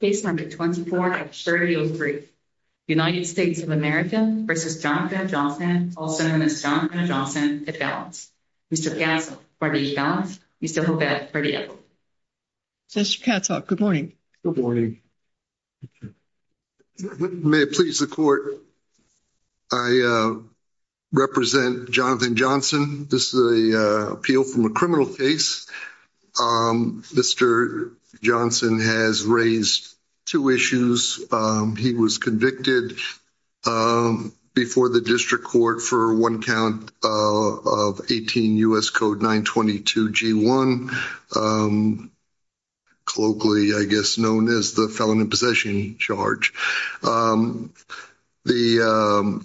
Case number 24-3003. United States of America v. Jonathan Johnson, also known as Jonathan Johnson, at balance. Mr. Katzhoff, are you at balance? Mr. Hobett, are you at balance? Mr. Katzhoff, good morning. Good morning. May it please the court, I represent Jonathan Johnson. This is an appeal from a criminal case. Mr. Johnson has raised two issues. He was convicted before the district court for one count of 18 U.S. Code 922-G1, colloquially, I guess, known as the felon in possession charge. The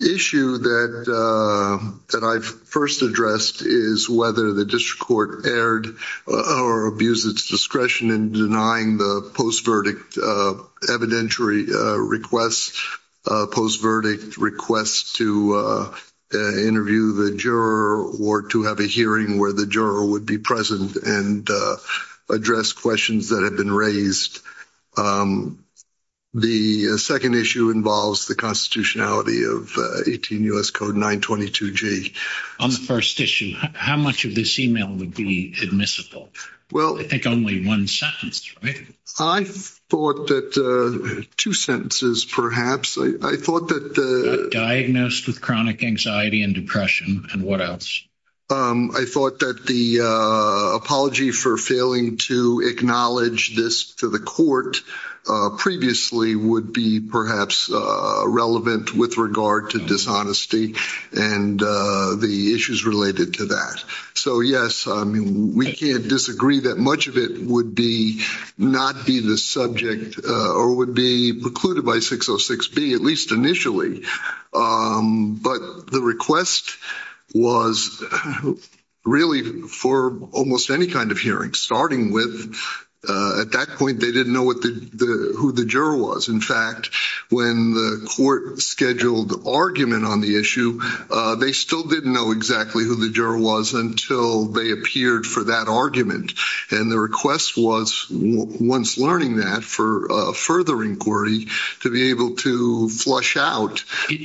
issue that I first addressed is whether the district court erred or abused its discretion in denying the post-verdict evidentiary request, post-verdict request to interview the juror or to have a hearing where the juror would be present and address questions that have been raised. The second issue involves the constitutionality of 18 U.S. Code 922-G. On the first issue, how much of this email would be admissible? I think only one sentence, right? I thought that two sentences, perhaps. I thought that the... Diagnosed with chronic anxiety and depression, and what else? I thought that the apology for failing to acknowledge this to the court previously would be perhaps relevant with regard to dishonesty and the issues related to that. So, yes, we can't disagree that much of it would be not be the subject or would be precluded by 606B, at least initially. But the request was really for almost any kind of hearing, starting with, at that point, they didn't know who the juror was.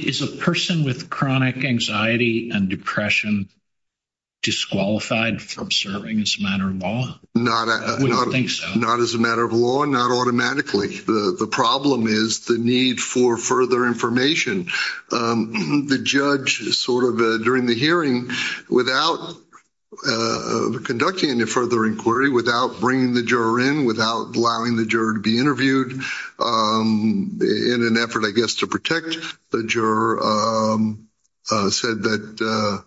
Is a person with chronic anxiety and depression disqualified from serving as a matter of law? Not as a matter of law, not automatically. The problem is the need for further information. The judge, sort of during the hearing, without conducting any further inquiry, without bringing the juror in, without allowing the juror to be interviewed, in an effort, I guess, to protect the juror, said that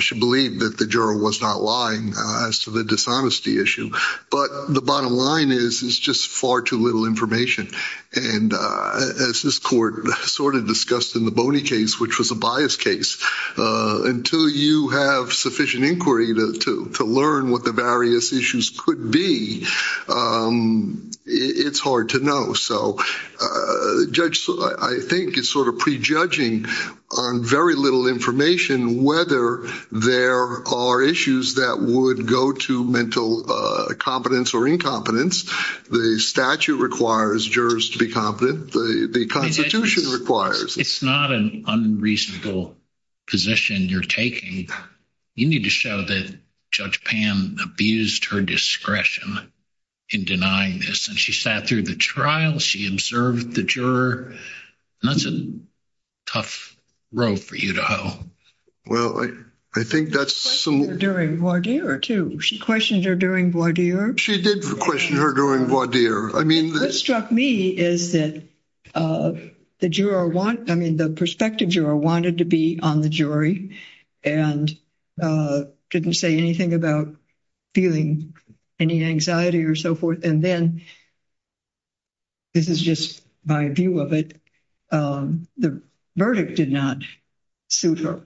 she believed that the juror was not lying as to the dishonesty issue. But the bottom line is it's just far too little information. And as this court sort of discussed in the Boney case, which was a biased case, until you have sufficient inquiry to learn what the various issues could be, it's hard to know. So the judge, I think, is sort of prejudging on very little information, whether there are issues that would go to mental competence or incompetence. The statute requires jurors to be competent. The Constitution requires. It's not an unreasonable position you're taking. You need to show that Judge Pan abused her discretion in denying this. And she sat through the trial. She observed the juror. That's a tough row for you to hoe. Well, I think that's some. She questioned her during voir dire, too. She questioned her during voir dire. She did question her during voir dire. What struck me is that the perspective juror wanted to be on the jury and didn't say anything about feeling any anxiety or so forth. And then, this is just my view of it, the verdict did not suit her.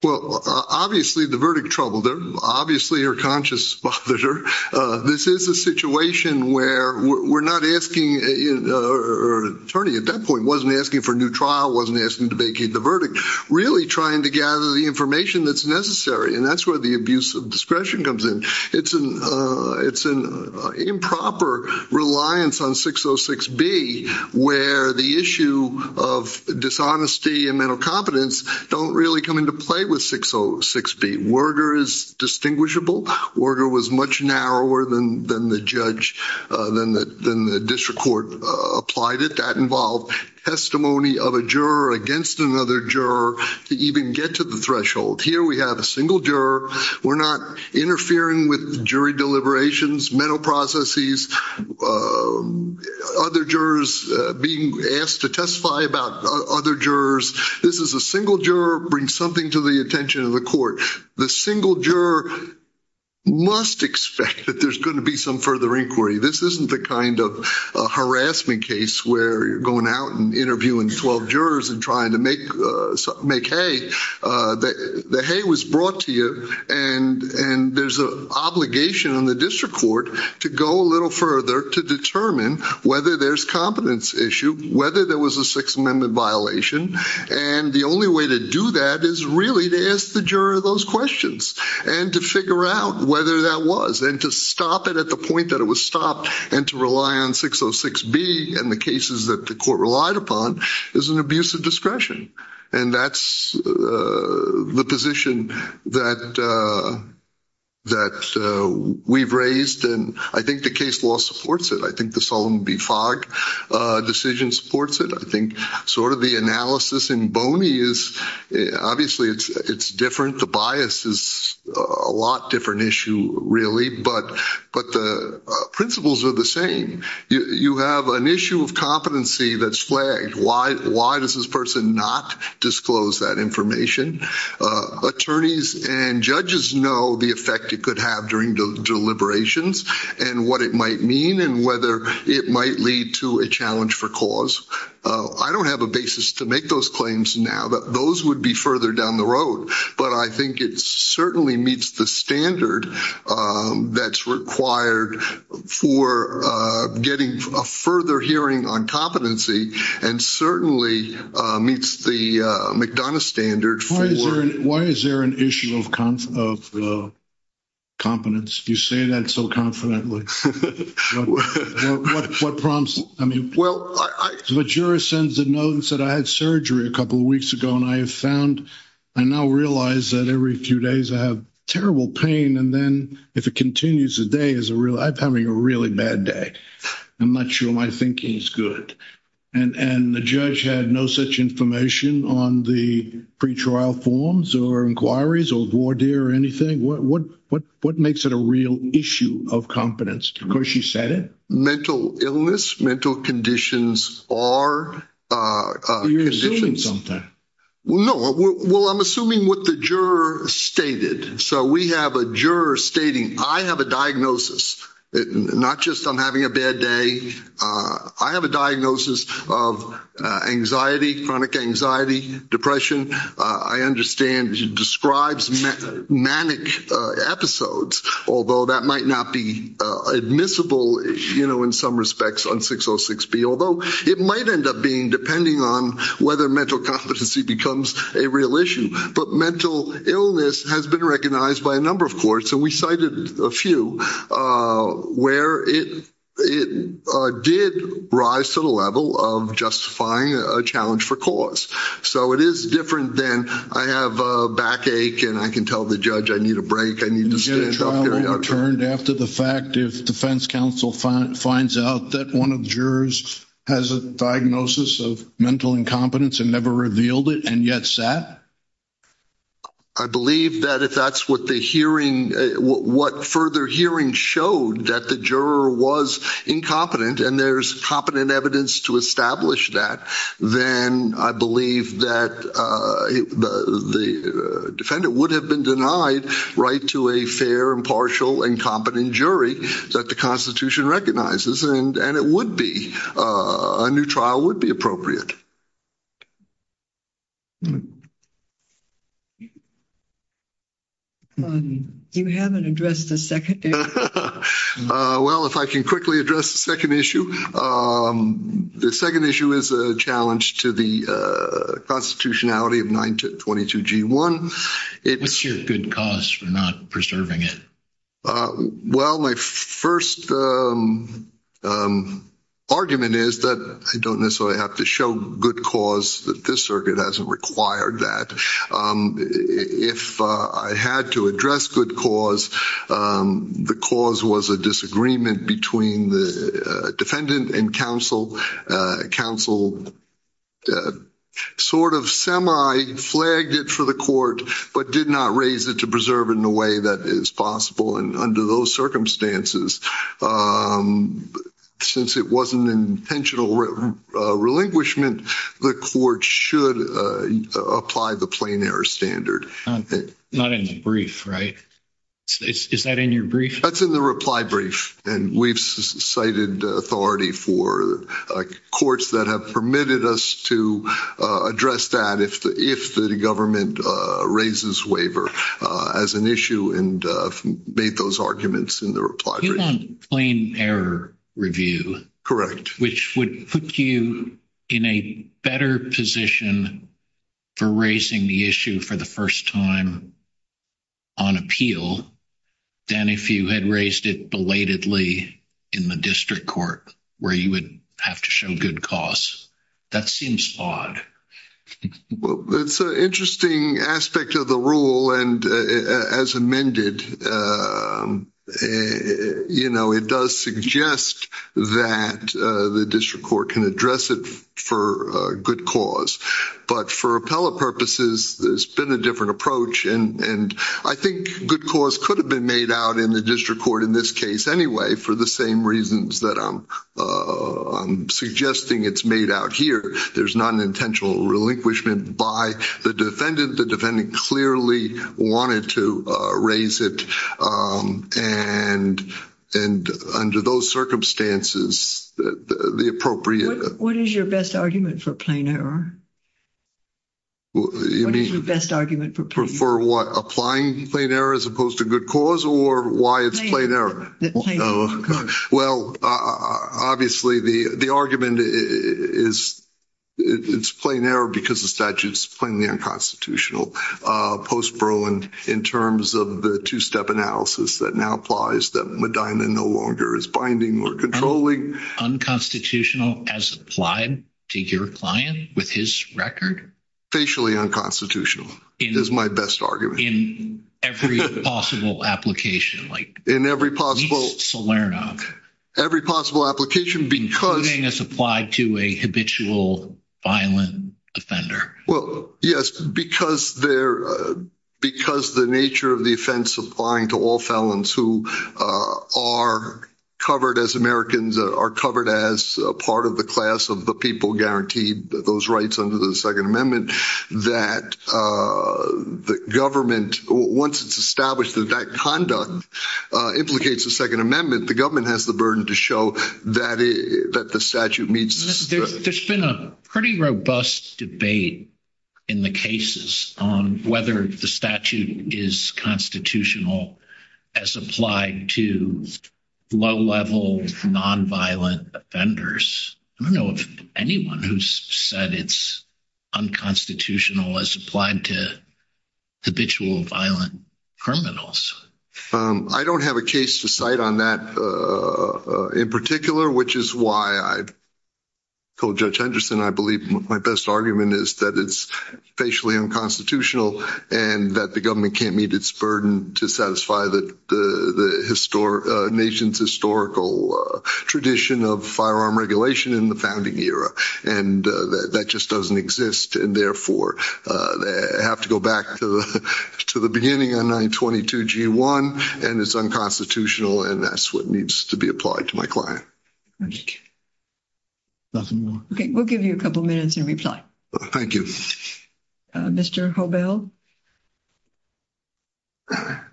Well, obviously, the verdict troubled her. Obviously, her conscience bothered her. This is a situation where we're not asking, or an attorney at that point wasn't asking for a new trial, wasn't asking to vacate the verdict, really trying to gather the information that's necessary. And that's where the abuse of discretion comes in. It's an improper reliance on 606B where the issue of dishonesty and mental competence don't really come into play with 606B. Werger is distinguishable. Werger was much narrower than the judge, than the district court applied it. That involved testimony of a juror against another juror to even get to the threshold. Here we have a single juror. We're not interfering with jury deliberations, mental processes, other jurors being asked to testify about other jurors. This is a single juror bringing something to the attention of the court. The single juror must expect that there's going to be some further inquiry. This isn't the kind of harassment case where you're going out and interviewing 12 jurors and trying to make hay. The hay was brought to you, and there's an obligation on the district court to go a little further to determine whether there's competence issue, whether there was a Sixth Amendment violation. And the only way to do that is really to ask the juror those questions and to figure out whether that was. And to stop it at the point that it was stopped and to rely on 606B and the cases that the court relied upon is an abuse of discretion. And that's the position that we've raised, and I think the case law supports it. I think the Solomon B. Fogg decision supports it. I think sort of the analysis in Boney is obviously it's different. The bias is a lot different issue, really, but the principles are the same. You have an issue of competency that's flagged. Why does this person not disclose that information? Attorneys and judges know the effect it could have during deliberations and what it might mean and whether it might lead to a challenge for cause. I don't have a basis to make those claims now, but those would be further down the road. But I think it certainly meets the standard that's required for getting a further hearing on competency and certainly meets the McDonough standard. Why is there an issue of competence? You say that so confidently. What prompts? The juror sends a note and said I had surgery a couple of weeks ago, and I have found I now realize that every few days I have terrible pain. And then if it continues a day, I'm having a really bad day. I'm not sure my thinking is good. And the judge had no such information on the pretrial forms or inquiries or voir dire or anything. What makes it a real issue of competence? Because she said it. Mental illness, mental conditions are. You're assuming something. Well, no. Well, I'm assuming what the juror stated. So we have a juror stating I have a diagnosis, not just I'm having a bad day. I have a diagnosis of anxiety, chronic anxiety, depression. I understand she describes manic episodes, although that might not be admissible, you know, in some respects on 606B, although it might end up being depending on whether mental competency becomes a real issue. But mental illness has been recognized by a number of courts, and we cited a few, where it did rise to the level of justifying a challenge for cause. So it is different than I have a backache and I can tell the judge I need a break, I need to stand up. Is there a trial overturned after the fact if defense counsel finds out that one of the jurors has a diagnosis of mental incompetence and never revealed it and yet sat? I believe that if that's what the hearing, what further hearing showed, that the juror was incompetent and there's competent evidence to establish that, then I believe that the defendant would have been denied right to a fair, impartial, and competent jury that the Constitution recognizes, and it would be, a new trial would be appropriate. You haven't addressed the second area. Well, if I can quickly address the second issue. The second issue is a challenge to the constitutionality of 922G1. What's your good cause for not preserving it? Well, my first argument is that I don't necessarily have to show good cause that this circuit hasn't required that. If I had to address good cause, the cause was a disagreement between the defendant and counsel. Counsel sort of semi-flagged it for the court but did not raise it to preserve it in a way that is possible. Under those circumstances, since it wasn't intentional relinquishment, the court should apply the plain error standard. Not in the brief, right? Is that in your brief? That's in the reply brief, and we've cited authority for courts that have permitted us to address that if the government raises waiver as an issue and made those arguments in the reply brief. You want plain error review. Correct. Which would put you in a better position for raising the issue for the first time on appeal than if you had raised it belatedly in the district court where you would have to show good cause. That seems flawed. It's an interesting aspect of the rule, and as amended, it does suggest that the district court can address it for good cause. But for appellate purposes, there's been a different approach, and I think good cause could have been made out in the district court in this case anyway for the same reasons that I'm suggesting it's made out here. There's not an intentional relinquishment by the defendant. The defendant clearly wanted to raise it, and under those circumstances, the appropriate— What is your best argument for plain error? You mean— What is your best argument for plain error? For what? Applying plain error as opposed to good cause, or why it's plain error? Plain error. Well, obviously, the argument is it's plain error because the statute is plainly unconstitutional post-Berlin in terms of the two-step analysis that now applies, that Medina no longer is binding or controlling. Unconstitutional as applied to your client with his record? Facially unconstitutional is my best argument. In every possible application? In every possible— At least Salerno. Every possible application because— Including as applied to a habitual violent offender. Well, yes, because the nature of the offense applying to all felons who are covered as Americans, are covered as a part of the class of the people guaranteed those rights under the Second Amendment, that the government, once it's established that that conduct implicates the Second Amendment, the government has the burden to show that the statute meets— There's been a pretty robust debate in the cases on whether the statute is constitutional as applied to low-level nonviolent offenders. I don't know of anyone who's said it's unconstitutional as applied to habitual violent criminals. I don't have a case to cite on that in particular, which is why I told Judge Henderson, I believe my best argument is that it's facially unconstitutional and that the government can't meet its burden to satisfy the nation's historical tradition of firearm regulation in the founding era. And that just doesn't exist, and therefore, I have to go back to the beginning on 922G1, and it's unconstitutional, and that's what needs to be applied to my client. Nothing more? Okay, we'll give you a couple minutes in reply. Thank you. Mr. Hobel? Thank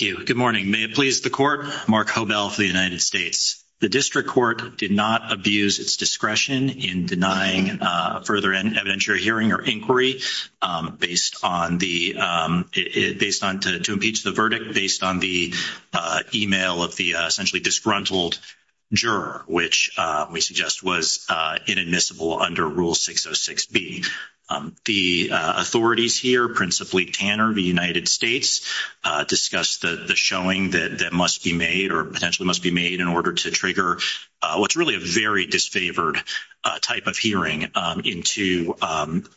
you. Good morning. May it please the Court, Mark Hobel for the United States. The District Court did not abuse its discretion in denying further evidentiary hearing or inquiry based on the— to impeach the verdict based on the email of the essentially disgruntled juror, which we suggest was inadmissible under Rule 606B. The authorities here, principally Tanner of the United States, discussed the showing that must be made or potentially must be made in order to trigger what's really a very disfavored type of hearing into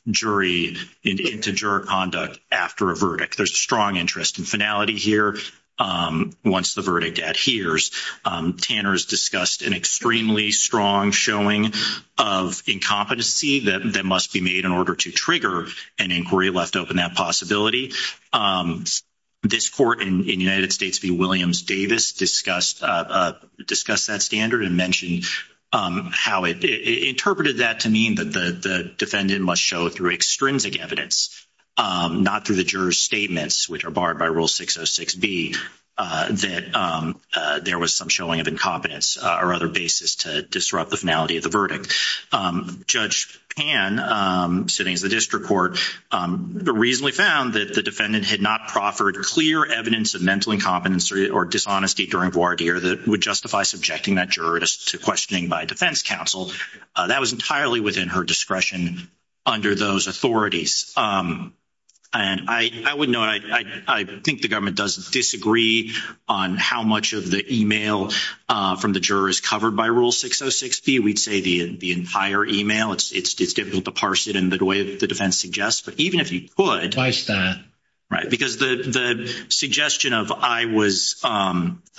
jury—into juror conduct after a verdict. There's a strong interest in finality here once the verdict adheres. Tanner's discussed an extremely strong showing of incompetency that must be made in order to trigger an inquiry, left open that possibility. This Court in the United States v. Williams Davis discussed that standard and mentioned how it interpreted that to mean that the defendant must show through extrinsic evidence, not through the juror's statements, which are barred by Rule 606B, that there was some showing of incompetence or other basis to disrupt the finality of the verdict. Judge Pan, sitting as the District Court, reasonably found that the defendant had not proffered clear evidence of mental incompetence or dishonesty during voir dire that would justify subjecting that juror to questioning by defense counsel. That was entirely within her discretion under those authorities. I think the government does disagree on how much of the email from the juror is covered by Rule 606B. We'd say the entire email. It's difficult to parse it in the way the defense suggests, but even if you could— Why is that? Because the suggestion of I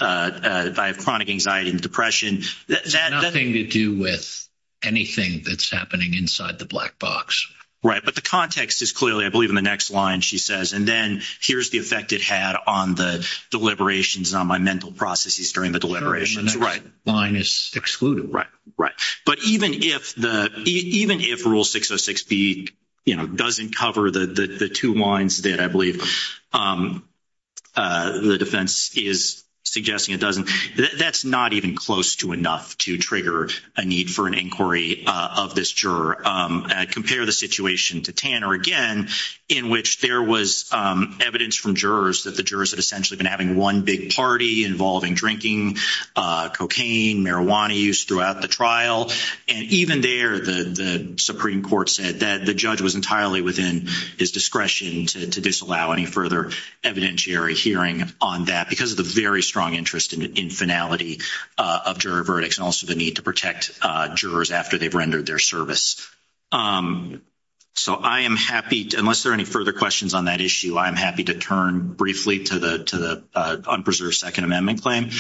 have chronic anxiety and depression— It has nothing to do with anything that's happening inside the black box. Right, but the context is clearly, I believe, in the next line she says, and then here's the effect it had on the deliberations and on my mental processes during the deliberations. The next line is excluded. Right, but even if Rule 606B doesn't cover the two lines that I believe the defense is suggesting it doesn't, that's not even close to enough to trigger a need for an inquiry of this juror. Compare the situation to Tanner again in which there was evidence from jurors that the jurors had essentially been having one big party involving drinking cocaine, marijuana use throughout the trial, and even there the Supreme Court said that the judge was entirely within his discretion to disallow any further evidentiary hearing on that because of the very strong interest in finality of juror verdicts and also the need to protect jurors after they've rendered their service. So I am happy—unless there are any further questions on that issue, I am happy to turn briefly to the unpreserved Second Amendment claim.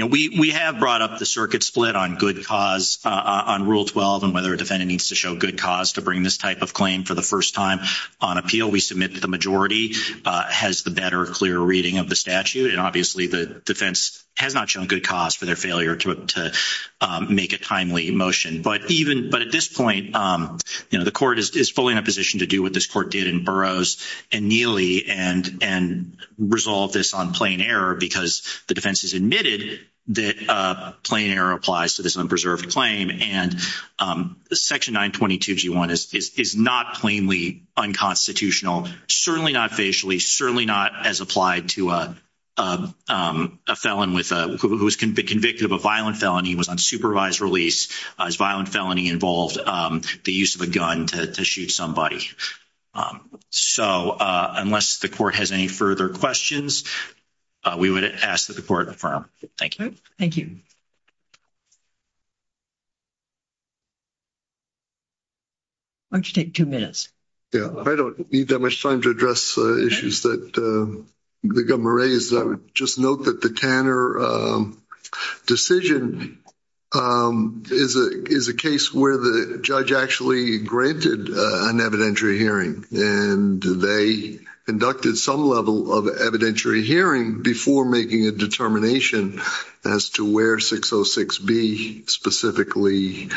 We have brought up the circuit split on good cause on Rule 12 and whether a defendant needs to show good cause to bring this type of claim for the first time on appeal. We submit that the majority has the better, clearer reading of the statute, and obviously the defense has not shown good cause for their failure to make a timely motion. But at this point, the court is fully in a position to do what this court did in Burroughs and Neely and resolve this on plain error because the defense has admitted that plain error applies to this unpreserved claim and Section 922G1 is not plainly unconstitutional, certainly not facially, certainly not as applied to a felon who was convicted of a violent felony and was on supervised release. This violent felony involved the use of a gun to shoot somebody. So unless the court has any further questions, we would ask that the court affirm. Thank you. Why don't you take two minutes? Yeah. I don't need that much time to address issues that the governor raised. I would just note that the Tanner decision is a case where the judge actually granted an evidentiary hearing and they conducted some level of evidentiary hearing before making a determination as to where 606B specifically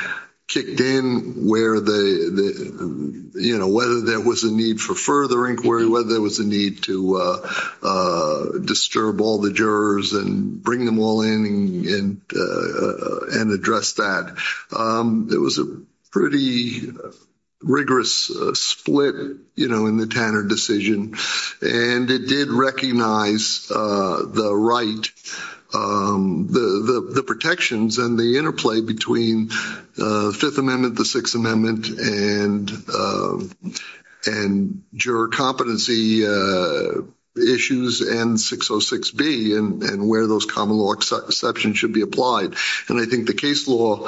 kicked in, whether there was a need for further inquiry, whether there was a need to disturb all the jurors and bring them all in and address that. It was a pretty rigorous split in the Tanner decision, and it did recognize the protections and the interplay between Fifth Amendment, the Sixth Amendment, and juror competency issues and 606B and where those common law exceptions should be applied. And I think the case law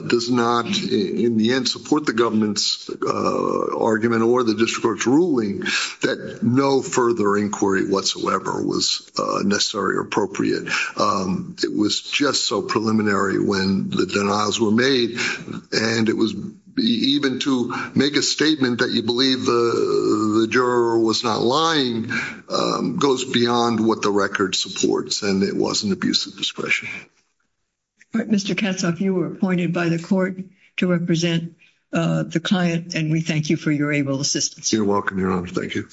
does not, in the end, support the government's argument or the district court's ruling that no further inquiry whatsoever was necessary or appropriate. It was just so preliminary when the denials were made, and even to make a statement that you believe the juror was not lying goes beyond what the record supports, and it was an abuse of discretion. Mr. Katzoff, you were appointed by the court to represent the client, and we thank you for your able assistance. You're welcome, Your Honor. Thank you.